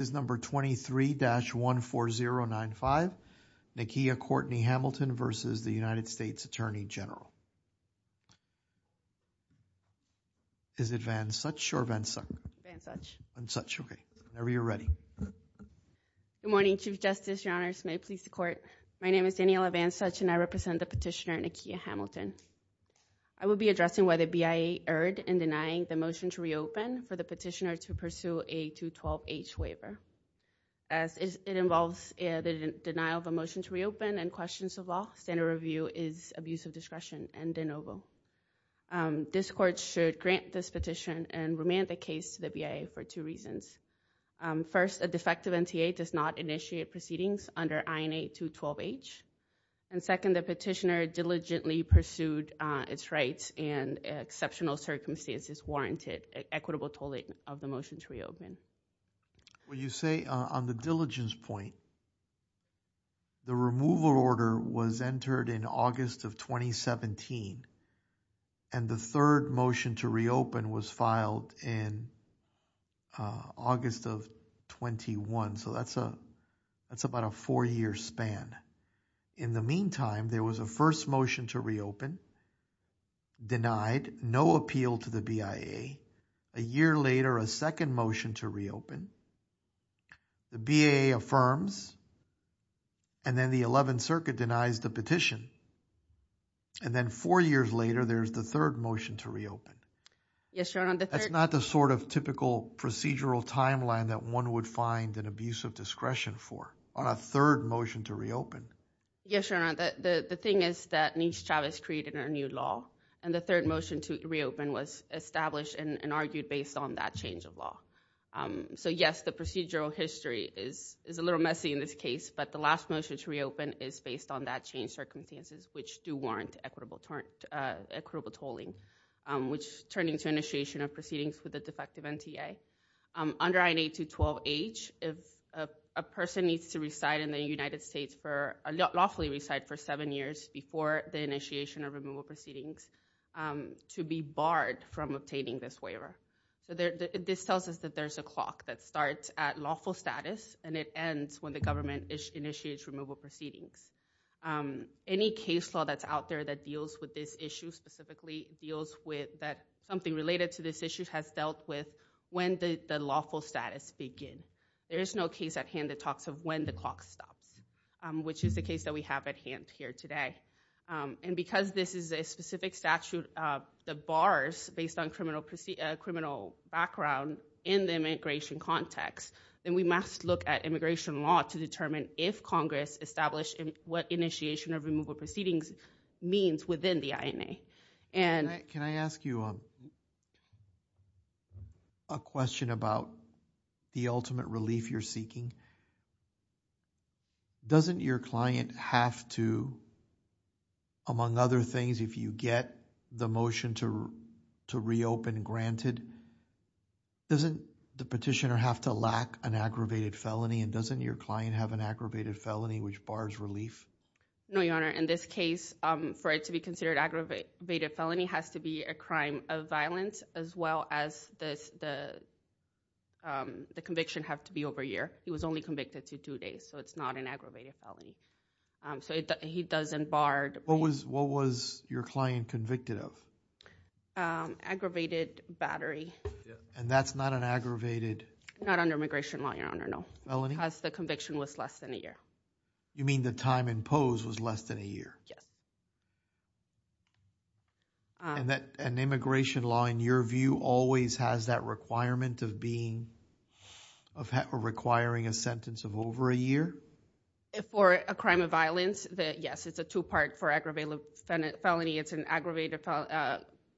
23-14095, Nakia Courtney Hamilton v. U.S. Attorney General Good morning, Chief Justice, Your Honors, and may it please the Court, my name is Daniela Van Such and I represent the petitioner Nakia Hamilton. I will be addressing whether BIA erred in denying the motion to reopen for the petitioner to pursue a 212H waiver. As it involves the denial of a motion to reopen and questions of law, standard review is abuse of discretion and de novo. This Court should grant this petition and remand the case to the BIA for two reasons. First, a defective NTA does not initiate proceedings under INA 212H. And second, the petitioner diligently pursued its rights and exceptional circumstances warranted an equitable tolling of the motion to reopen. When you say on the diligence point, the removal order was entered in August of 2017 and the third motion to reopen was filed in August of 21. So, that's about a four-year span. In the meantime, there was a first motion to reopen denied, no appeal to the BIA. A year later, a second motion to reopen. The BIA affirms and then the 11th Circuit denies the petition. And then four years later, there's the third motion to reopen. Yes, Your Honor. That's not the sort of typical procedural timeline that one would find an abuse of discretion for on a third motion to reopen. Yes, Your Honor. The thing is that Nish Chavez created a new law. And the third motion to reopen was established and argued based on that change of law. So, yes, the procedural history is a little messy in this case. But the last motion to reopen is based on that change circumstances, which do warrant equitable tolling, which turning to initiation of proceedings with a defective NTA. Under INA 212H, if a person needs to reside in the United States for a lawfully reside for seven years before the initiation of removal proceedings to be barred from obtaining this waiver. This tells us that there's a clock that starts at lawful status and it ends when the government initiates removal proceedings. Any case law that's out there that deals with this issue specifically deals with that something related to this issue has dealt with when the lawful status begin. There is no case at hand that talks of when the clock stops, which is the case that we have at hand here today. And because this is a specific statute, the bars based on criminal background in the immigration context, then we must look at immigration law to determine if Congress established what initiation of removal proceedings means within the INA. Can I ask you a question about the ultimate relief you're seeking? Doesn't your client have to, among other things, if you get the motion to reopen granted, doesn't the petitioner have to lack an aggravated felony? And doesn't your client have an aggravated felony which bars relief? No, Your Honor. In this case, for it to be considered aggravated felony has to be a crime of violence as well as the conviction have to be over a year. He was only convicted to two days, so it's not an aggravated felony. So he doesn't bar. What was your client convicted of? Aggravated battery. And that's not an aggravated? Not under immigration law, Your Honor, no. Felony? Because the conviction was less than a year. You mean the time imposed was less than a year? Yes. And immigration law, in your view, always has that requirement of requiring a sentence of over a year? For a crime of violence, yes, it's a two-part for aggravated felony. It's an aggravated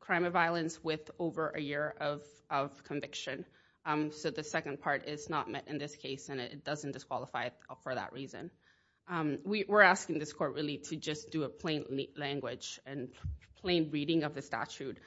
crime of violence with over a year of conviction. So the second part is not met in this case, and it doesn't disqualify for that reason. We're asking this court really to just do a plain language and plain reading of the statute.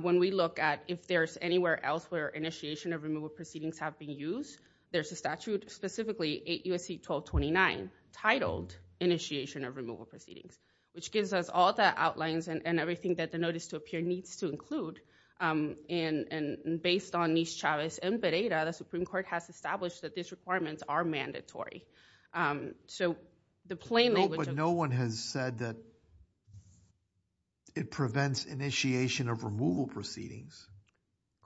When we look at if there's anywhere else where initiation of removal proceedings have been used, there's a statute, specifically 8 U.S.C. 1229, titled Initiation of Removal Proceedings, which gives us all the outlines and everything that the notice to appear needs to include. And based on Nis-Chavez and Pereira, the Supreme Court has established that these requirements are mandatory. So the plain language— But no one has said that it prevents initiation of removal proceedings.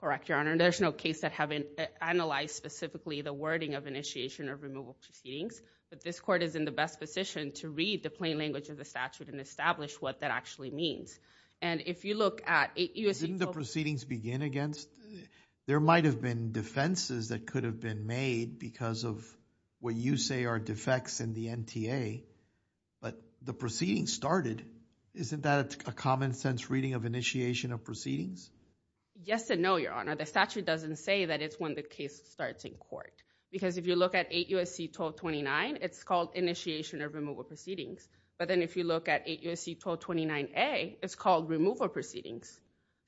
Correct, Your Honor. There's no case that haven't analyzed specifically the wording of initiation of removal proceedings, but this court is in the best position to read the plain language of the statute and establish what that actually means. And if you look at 8 U.S.C. 1229— Didn't the proceedings begin against— There might have been defenses that could have been made because of what you say are defects in the NTA, but the proceedings started. Isn't that a common-sense reading of initiation of proceedings? Yes and no, Your Honor. The statute doesn't say that it's when the case starts in court, because if you look at 8 U.S.C. 1229, it's called Initiation of Removal Proceedings. But then if you look at 8 U.S.C. 1229A, it's called Removal Proceedings.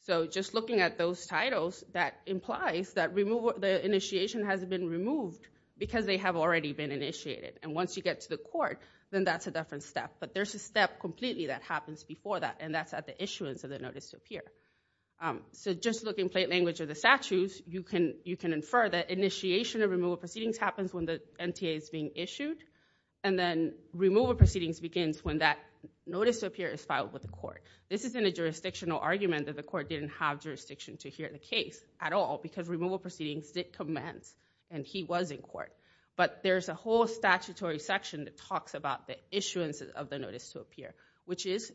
So just looking at those titles, that implies that the initiation hasn't been removed because they have already been initiated. And once you get to the court, then that's a different step. But there's a step completely that happens before that, and that's at the issuance of the Notice of Peer. So just looking at the plain language of the statutes, you can infer that initiation of removal proceedings happens when the NTA is being issued, and then removal proceedings begins when that Notice of Peer is filed with the court. This isn't a jurisdictional argument that the court didn't have jurisdiction to hear the case at all, because removal proceedings did commence, and he was in court. But there's a whole statutory section that talks about the issuance of the Notice of Peer, which is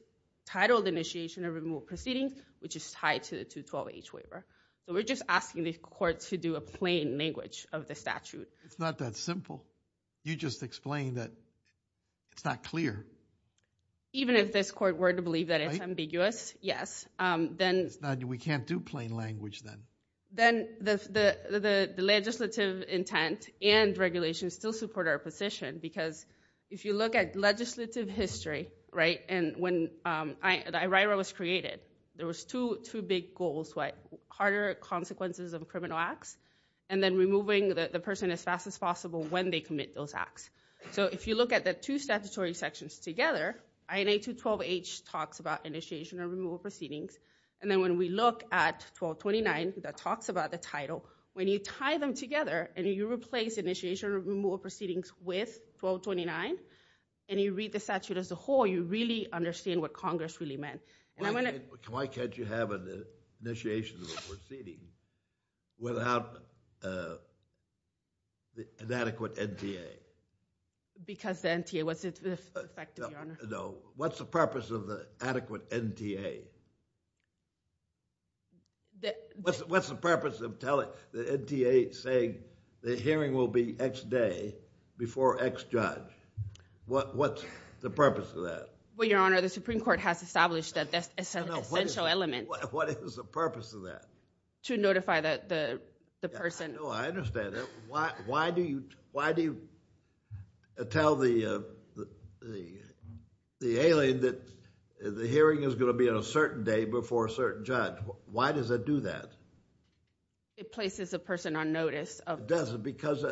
titled Initiation of Removal Proceedings, which is tied to the 212H waiver. So we're just asking the court to do a plain language of the statute. It's not that simple. You just explained that it's not clear. Even if this court were to believe that it's ambiguous, yes. Then we can't do plain language then. Then the legislative intent and regulations still support our position, because if you look at legislative history, right, and when the IRIRA was created, there was two big goals, harder consequences of criminal acts, and then removing the person as fast as possible when they commit those acts. So if you look at the two statutory sections together, INA 212H talks about Initiation of Removal Proceedings, and then when we look at 1229, that talks about the title, when you tie them together and you replace Initiation of Removal Proceedings with 1229, and you read the statute as a whole, you really understand what Congress really meant. Why can't you have an Initiation of Removal Proceedings without an adequate NTA? Because the NTA was effective, Your Honor. No. What's the purpose of the adequate NTA? What's the purpose of the NTA saying the hearing will be X day before X judge? What's the purpose of that? Well, Your Honor, the Supreme Court has established that that's an essential element. What is the purpose of that? To notify the person. Oh, I understand that. Why do you tell the alien that the hearing is going to be on a certain day before a certain judge? Why does it do that? It places a person on notice. Does it? Because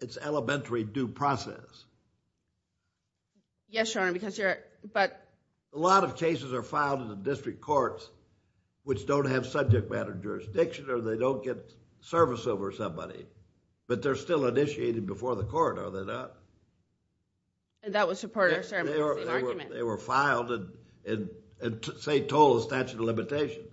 it's elementary due process. Yes, Your Honor, because you're – A lot of cases are filed in the district courts which don't have subject matter jurisdiction or they don't get service over somebody, but they're still initiated before the court, are they not? That was a part of the ceremonial argument. They were filed and say, told the statute of limitations.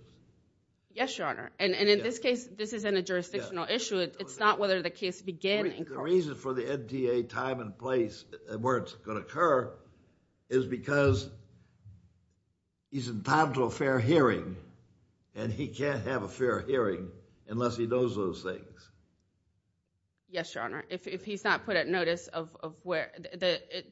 Yes, Your Honor, and in this case, this isn't a jurisdictional issue. It's not whether the case began in court. The reason for the NTA time and place where it's going to occur is because he's entitled to a fair hearing, and he can't have a fair hearing unless he knows those things. Yes, Your Honor. If he's not put at notice of where –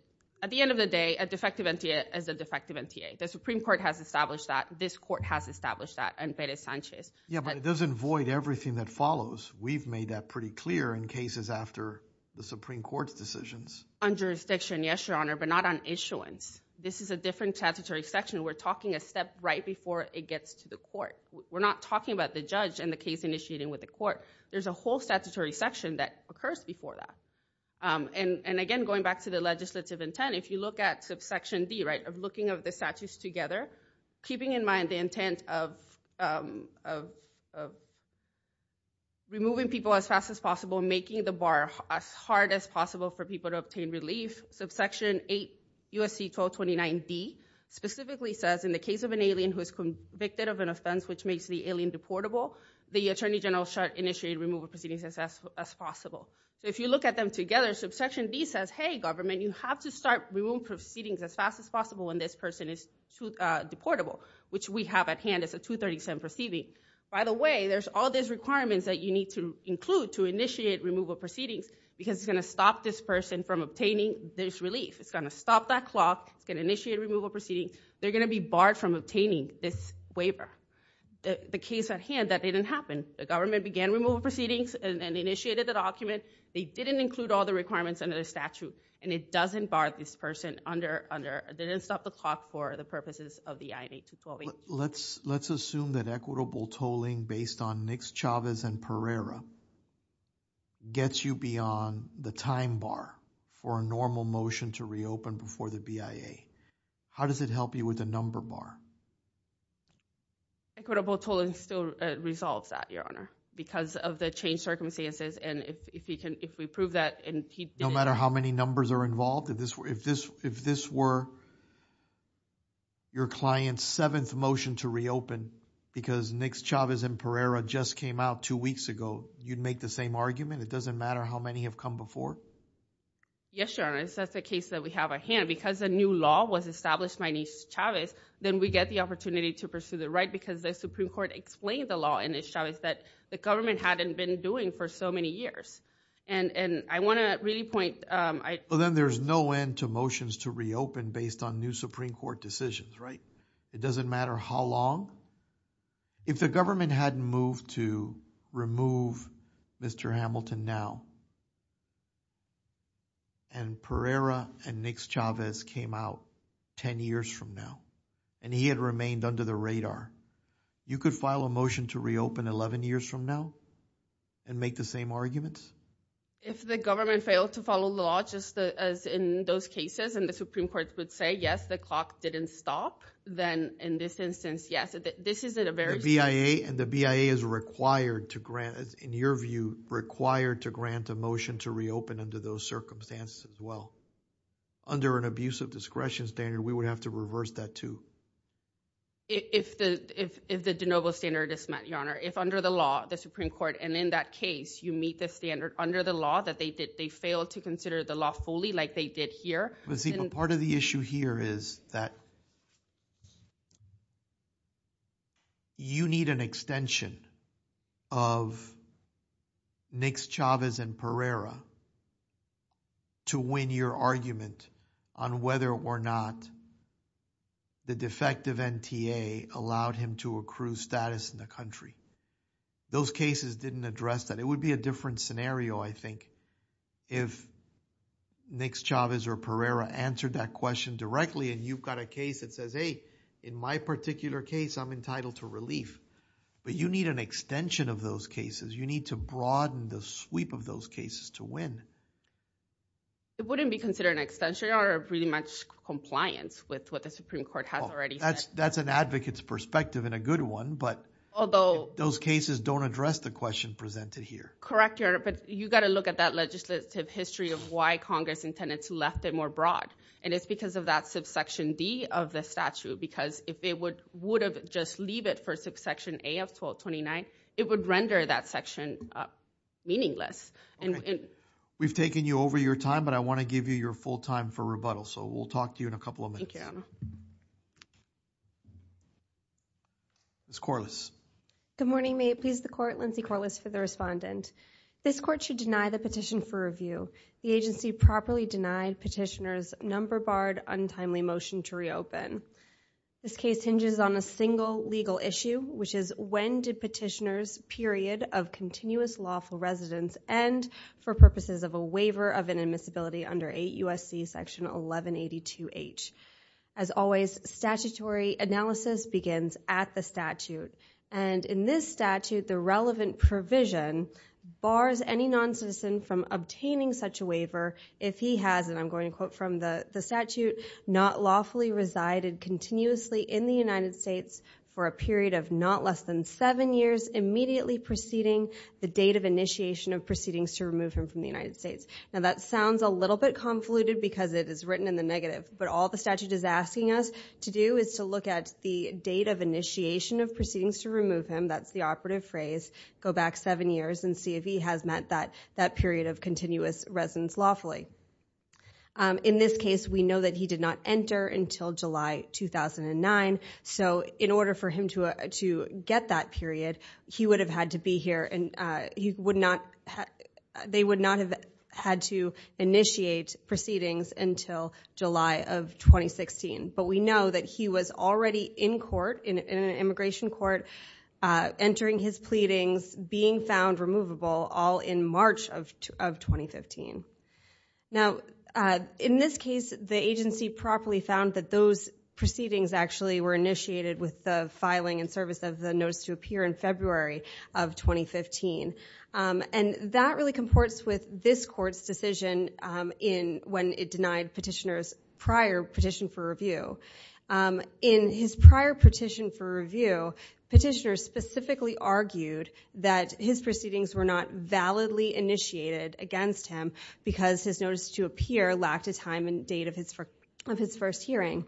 At the end of the day, a defective NTA is a defective NTA. The Supreme Court has established that. This court has established that in Perez-Sanchez. Yeah, but it doesn't void everything that follows. We've made that pretty clear in cases after the Supreme Court's decisions. On jurisdiction, yes, Your Honor, but not on issuance. This is a different statutory section. We're talking a step right before it gets to the court. We're not talking about the judge and the case initiating with the court. There's a whole statutory section that occurs before that. And again, going back to the legislative intent, if you look at subsection D, right, removing people as fast as possible, making the bar as hard as possible for people to obtain relief, subsection 8 U.S.C. 1229D specifically says, in the case of an alien who is convicted of an offense which makes the alien deportable, the attorney general should initiate removal proceedings as fast as possible. So if you look at them together, subsection D says, hey, government, you have to start removing proceedings as fast as possible when this person is deportable, which we have at hand as a 237 proceeding. By the way, there's all these requirements that you need to include to initiate removal proceedings because it's going to stop this person from obtaining this relief. It's going to stop that clock. It's going to initiate removal proceedings. They're going to be barred from obtaining this waiver. The case at hand, that didn't happen. The government began removal proceedings and initiated the document. They didn't include all the requirements under the statute, and it doesn't bar this person under or didn't stop the clock for the purposes of the INA 212A. Let's assume that equitable tolling based on Nix, Chavez, and Pereira gets you beyond the time bar for a normal motion to reopen before the BIA. How does it help you with the number bar? Equitable tolling still resolves that, Your Honor, because of the changed circumstances, and if we prove that and he didn't... No matter how many numbers are involved? If this were your client's seventh motion to reopen because Nix, Chavez, and Pereira just came out two weeks ago, you'd make the same argument? It doesn't matter how many have come before? Yes, Your Honor. That's the case that we have at hand. Because a new law was established by Nix, Chavez, then we get the opportunity to pursue the right because the Supreme Court explained the law in Nix, Chavez that the government hadn't been doing for so many years. And I want to really point... Well, then there's no end to motions to reopen based on new Supreme Court decisions, right? It doesn't matter how long? If the government hadn't moved to remove Mr. Hamilton now, and Pereira and Nix, Chavez came out 10 years from now, and he had remained under the radar, you could file a motion to reopen 11 years from now and make the same arguments? If the government failed to follow the law, just as in those cases, and the Supreme Court would say, yes, the clock didn't stop, then in this instance, yes. This isn't a very... The BIA and the BIA is required to grant, in your view, required to grant a motion to reopen under those circumstances as well. Under an abusive discretion standard, we would have to reverse that too. If the de novo standard is met, Your Honor. If under the law, the Supreme Court, and in that case, you meet the standard under the law that they did. They failed to consider the law fully like they did here. But see, but part of the issue here is that you need an extension of Nix, Chavez, and Pereira to win your argument on whether or not the defective NTA allowed him to accrue status in the country. Those cases didn't address that. It would be a different scenario, I think, if Nix, Chavez, or Pereira answered that question directly and you've got a case that says, hey, in my particular case, I'm entitled to relief. But you need an extension of those cases. You need to broaden the sweep of those cases to win. It wouldn't be considered an extension, Your Honor, of really much compliance with what the Supreme Court has already said. That's an advocate's perspective and a good one, but... Those cases don't address the question presented here. Correct, Your Honor. But you've got to look at that legislative history of why Congress intended to left it more broad. And it's because of that subsection D of the statute because if it would have just leave it for subsection A of 1229, it would render that section meaningless. We've taken you over your time, but I want to give you your full time for rebuttal. So we'll talk to you in a couple of minutes. Thank you, Your Honor. Ms. Corliss. Good morning. May it please the Court, Lindsay Corliss for the respondent. This court should deny the petition for review. The agency properly denied petitioner's number-barred, untimely motion to reopen. This case hinges on a single legal issue, which is when did petitioner's period of continuous lawful residence end for purposes of a waiver of inadmissibility under 8 U.S.C. Section 1182H? As always, statutory analysis begins at the statute. And in this statute, the relevant provision bars any noncitizen from obtaining such a waiver if he has, and I'm going to quote from the statute, not lawfully resided continuously in the United States for a period of not less than seven years, immediately preceding the date of initiation of proceedings to remove him from the United States. Now that sounds a little bit convoluted because it is written in the negative, but all the statute is asking us to do is to look at the date of initiation of proceedings to remove him, that's the operative phrase, go back seven years and see if he has met that period of continuous residence lawfully. In this case, we know that he did not enter until July 2009, so in order for him to get that period, he would have had to be here, and they would not have had to initiate proceedings until July of 2016. But we know that he was already in court, in an immigration court, entering his pleadings, being found removable, all in March of 2015. Now, in this case, the agency properly found that those proceedings actually were initiated with the filing and service of the notice to appear in February of 2015. And that really comports with this court's decision when it denied Petitioner's prior petition for review. In his prior petition for review, Petitioner specifically argued that his proceedings were not validly initiated against him because his notice to appear lacked a time and date of his first hearing.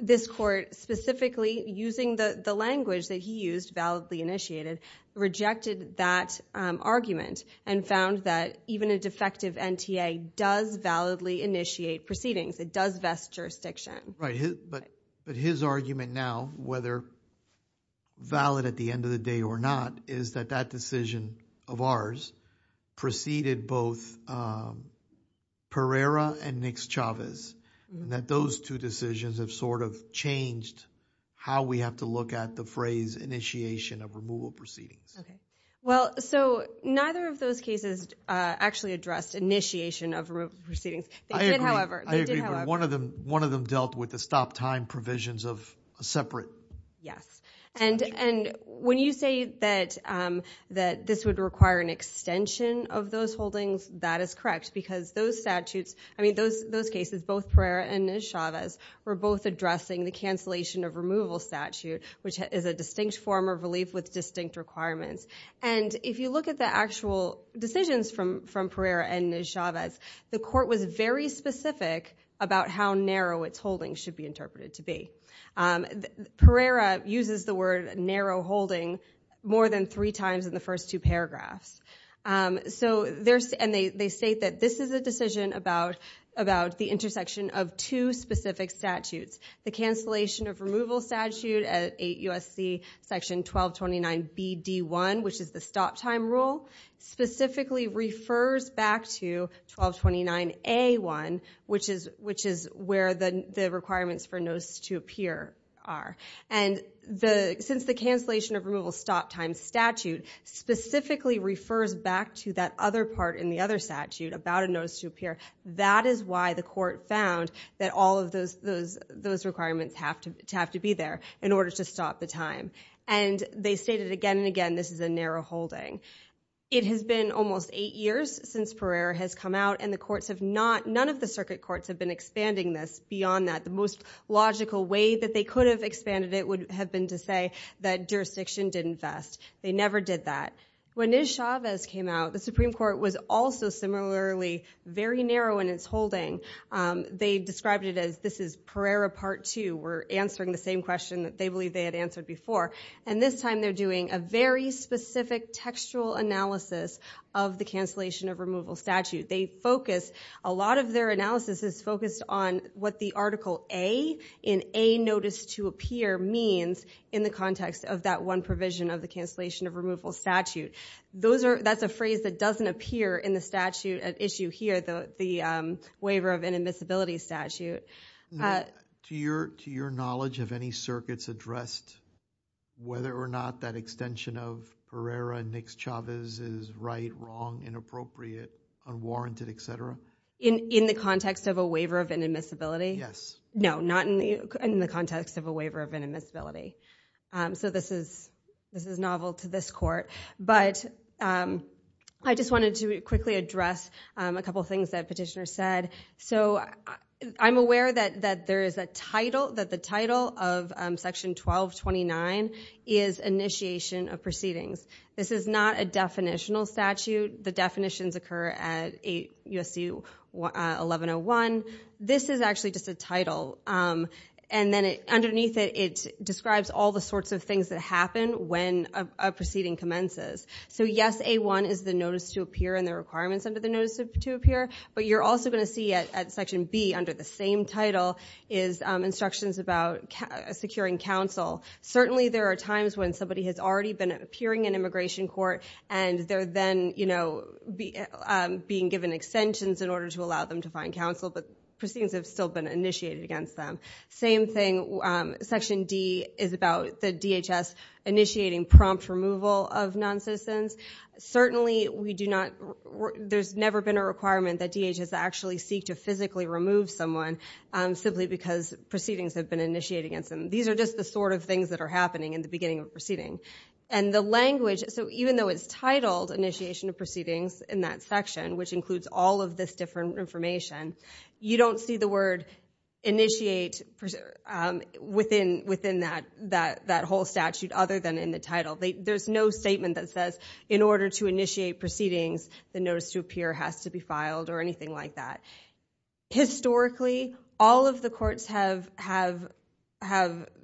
This court, specifically using the language that he used, validly initiated, rejected that argument and found that even a defective NTA does validly initiate proceedings. It does vest jurisdiction. But his argument now, whether valid at the end of the day or not, is that that decision of ours preceded both Pereira and Nix-Chavez, and that those two decisions have sort of changed how we have to look at the phrase initiation of removal proceedings. Okay. Well, so neither of those cases actually addressed initiation of removal proceedings. They did, however. I agree, but one of them dealt with the stop-time provisions of a separate... Yes. And when you say that this would require an extension of those holdings, that is correct because those statutes... I mean, those cases, both Pereira and Nix-Chavez, were both addressing the cancellation of removal statute, which is a distinct form of relief with distinct requirements. And if you look at the actual decisions from Pereira and Nix-Chavez, the court was very specific about how narrow its holdings should be interpreted to be. Pereira uses the word narrow holding more than three times in the first two paragraphs. And they state that this is a decision about the intersection of two specific statutes, the cancellation of removal statute at 8 U.S.C. section 1229BD1, which is the stop-time rule, specifically refers back to 1229A1, which is where the requirements for notice to appear are. And since the cancellation of removal stop-time statute specifically refers back to that other part in the other statute about a notice to appear, that is why the court found that all of those requirements have to be there in order to stop the time. And they state it again and again, this is a narrow holding. It has been almost eight years since Pereira has come out, and the courts have not, none of the circuit courts have been expanding this beyond that. The most logical way that they could have expanded it would have been to say that jurisdiction didn't vest. They never did that. When Nix-Chavez came out, the Supreme Court was also similarly very narrow in its holding. They described it as, this is Pereira Part 2. We're answering the same question that they believed they had answered before. And this time they're doing a very specific textual analysis of the cancellation of removal statute. They focus, a lot of their analysis is focused on what the Article A in A Notice to Appear means in the context of that one provision of the cancellation of removal statute. That's a phrase that doesn't appear in the statute at issue here, the waiver of inadmissibility statute. To your knowledge, have any circuits addressed whether or not that extension of Pereira-Nix-Chavez is right, wrong, inappropriate, unwarranted, etc.? In the context of a waiver of inadmissibility? Yes. No, not in the context of a waiver of inadmissibility. So this is novel to this court. But I just wanted to quickly address a couple things that Petitioner said. So I'm aware that there is a title, that the title of Section 1229 is Initiation of Proceedings. This is not a definitional statute. The definitions occur at USC 1101. This is actually just a title. And then underneath it, it describes all the sorts of things that happen when a proceeding commences. So yes, A1 is the Notice to Appear and the requirements under the Notice to Appear. But you're also going to see at Section B, under the same title, is instructions about securing counsel. Certainly there are times when somebody has already been appearing in immigration court and they're then being given extensions in order to allow them to find counsel. But proceedings have still been initiated against them. Same thing, Section D is about the DHS initiating prompt removal of noncitizens. Certainly we do not, there's never been a requirement that DHS actually seek to physically remove someone simply because proceedings have been initiated against them. These are just the sort of things that are happening in the beginning of a proceeding. And the language, so even though it's titled Initiation of Proceedings in that section, which includes all of this different information, you don't see the word initiate within that whole statute other than in the title. There's no statement that says, in order to initiate proceedings, the Notice to Appear has to be filed or anything like that. Historically, all of the courts have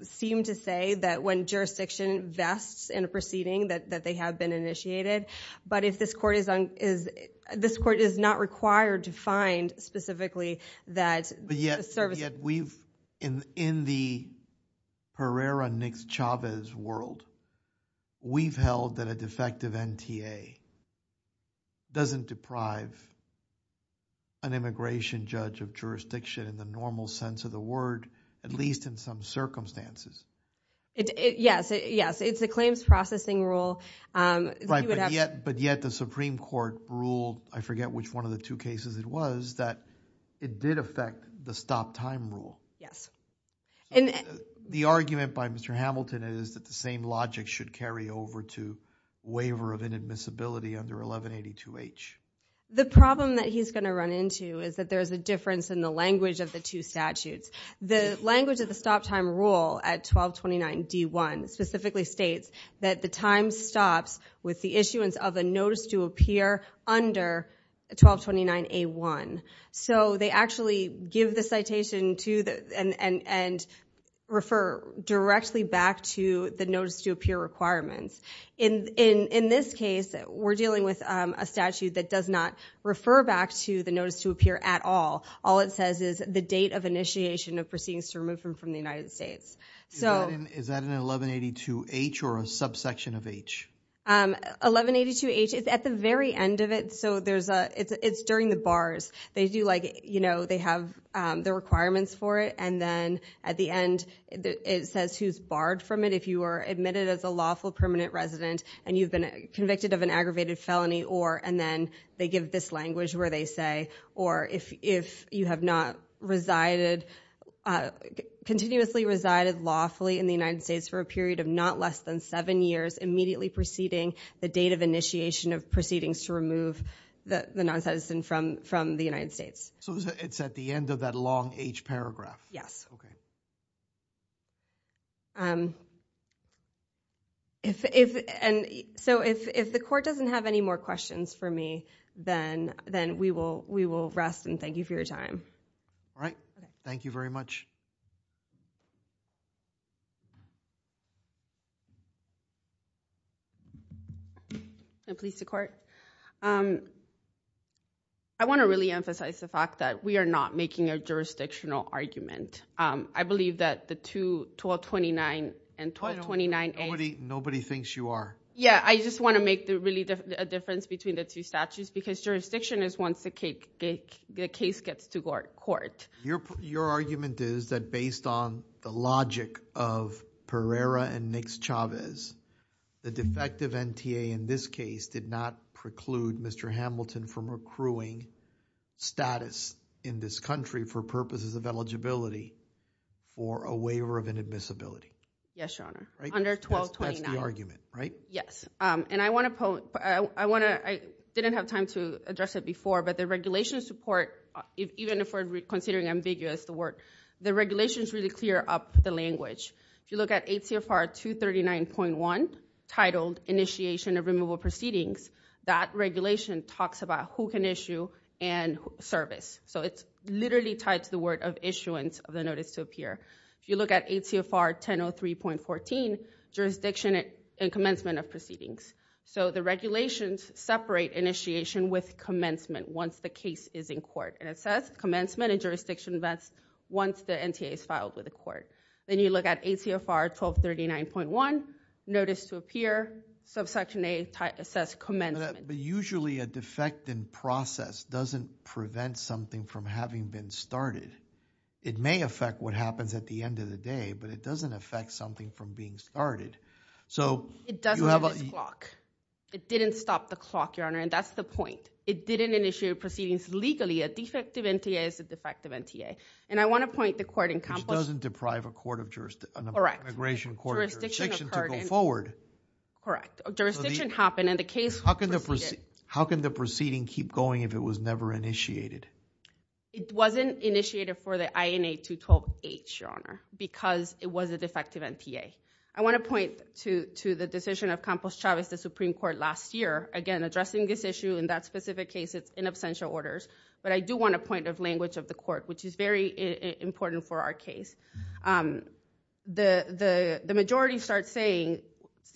seemed to say that when jurisdiction vests in a proceeding that they have been initiated. But this court is not required to find specifically that service. Yet we've, in the Herrera-Nix-Chavez world, we've held that a defective NTA doesn't deprive an immigration judge of jurisdiction in the normal sense of the word, at least in some circumstances. Yes, it's a claims processing rule. Right, but yet the Supreme Court ruled, I forget which one of the two cases it was, that it did affect the stop-time rule. The argument by Mr. Hamilton is that the same logic should carry over to waiver of inadmissibility under 1182H. The problem that he's going to run into is that there's a difference in the language of the two statutes. The language of the stop-time rule at 1229D1 specifically states that the time stops with the issuance of a notice to appear under 1229A1. So they actually give the citation and refer directly back to the notice to appear requirements. In this case, we're dealing with a statute that does not refer back to the notice to appear at all. All it says is the date of initiation of proceedings to remove him from the United States. Is that in 1182H or a subsection of H? 1182H, it's at the very end of it. It's during the bars. They have the requirements for it and then at the end it says who's barred from it if you are admitted as a lawful permanent resident and you've been convicted of an aggravated felony and then they give this language where they say or if you have not resided, continuously resided lawfully in the United States for a period of not less than seven years immediately preceding the date of initiation of proceedings to remove the non-citizen from the United States. So it's at the end of that long H paragraph? Yes. Okay. So if the court doesn't have any more questions for me then we will rest and thank you for your time. All right. Thank you very much. I want to really emphasize the fact that we are not making a jurisdictional argument. I believe that the 1229 and 1229A... Nobody thinks you are. Yeah, I just want to make a difference between the two statutes because jurisdiction is once the case gets to court. Your argument is that based on the logic of Pereira and Nix-Chavez, the defective NTA in this case did not preclude Mr. Hamilton from accruing status in this country for purposes of eligibility for a waiver of inadmissibility. Yes, Your Honor. Under 1229. That's the argument, right? Yes. And I want to... I didn't have time to address it before, but the regulation support, even if we're considering ambiguous, the regulations really clear up the language. If you look at 8 CFR 239.1, titled Initiation of Removal Proceedings, that regulation talks about who can issue and service. So it's literally tied to the word of issuance of the notice to appear. If you look at 8 CFR 1003.14, jurisdiction and commencement of proceedings. So the regulations separate initiation with commencement once the case is in court. And it says commencement and jurisdiction events once the NTA is filed with the court. Then you look at 8 CFR 1239.1, notice to appear, subsection A, it says commencement. But usually a defect in process doesn't prevent something from having been started. It may affect what happens at the end of the day, but it doesn't affect something from being started. So you have a- It doesn't stop the clock. It didn't stop the clock, Your Honor. And that's the point. It didn't initiate proceedings legally. A defective NTA is a defective NTA. And I want to point the court in- Which doesn't deprive a court of jurisdiction- Correct. An immigration court of jurisdiction to go forward. Correct. Jurisdiction happened and the case- How can the proceeding keep going if it was never initiated? It wasn't initiated for the INA 212H, Your Honor, because it was a defective NTA. I want to point to the decision of Campos Chavez, the Supreme Court, last year. Again, addressing this issue in that specific case, it's in absentia orders. But I do want a point of language of the court, which is very important for our case. The majority start saying,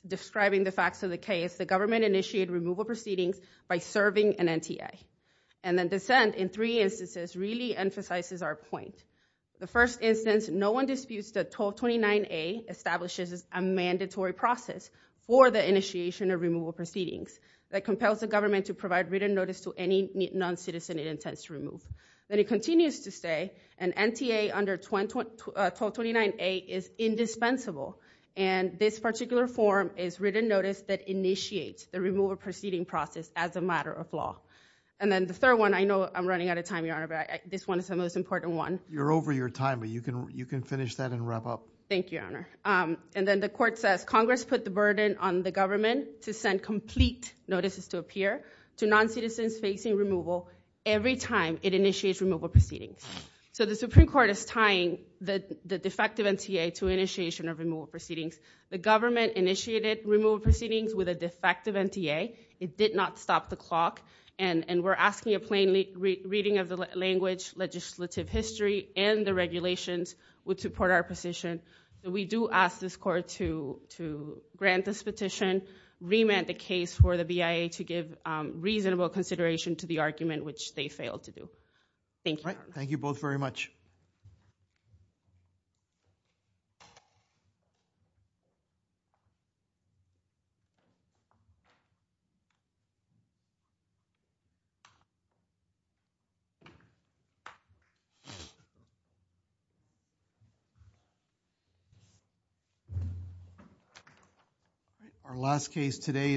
describing the facts of the case, the government initiated removal proceedings by serving an NTA. And then dissent in three instances really emphasizes our point. The first instance, no one disputes that 1229A establishes a mandatory process for the initiation of removal proceedings that compels the government to provide written notice to any non-citizen it intends to remove. Then it continues to say, an NTA under 1229A is indispensable. And this particular form is written notice that initiates the removal proceeding process as a matter of law. And then the third one, I know I'm running out of time, Your Honor, but this one is the most important one. You're over your time, but you can finish that and wrap up. Thank you, Your Honor. And then the court says, Congress put the burden on the government to send complete notices to appear to non-citizens facing removal every time it initiates removal proceedings. So the Supreme Court is tying the defective NTA to initiation of removal proceedings. The government initiated removal proceedings with a defective NTA. It did not stop the clock. And we're asking a plain reading of the language, legislative history, and the regulations would support our position. We do ask this court to grant this petition, remand the case for the BIA to give reasonable consideration to the argument which they failed to do. Thank you, Your Honor. Thank you both very much. Thank you.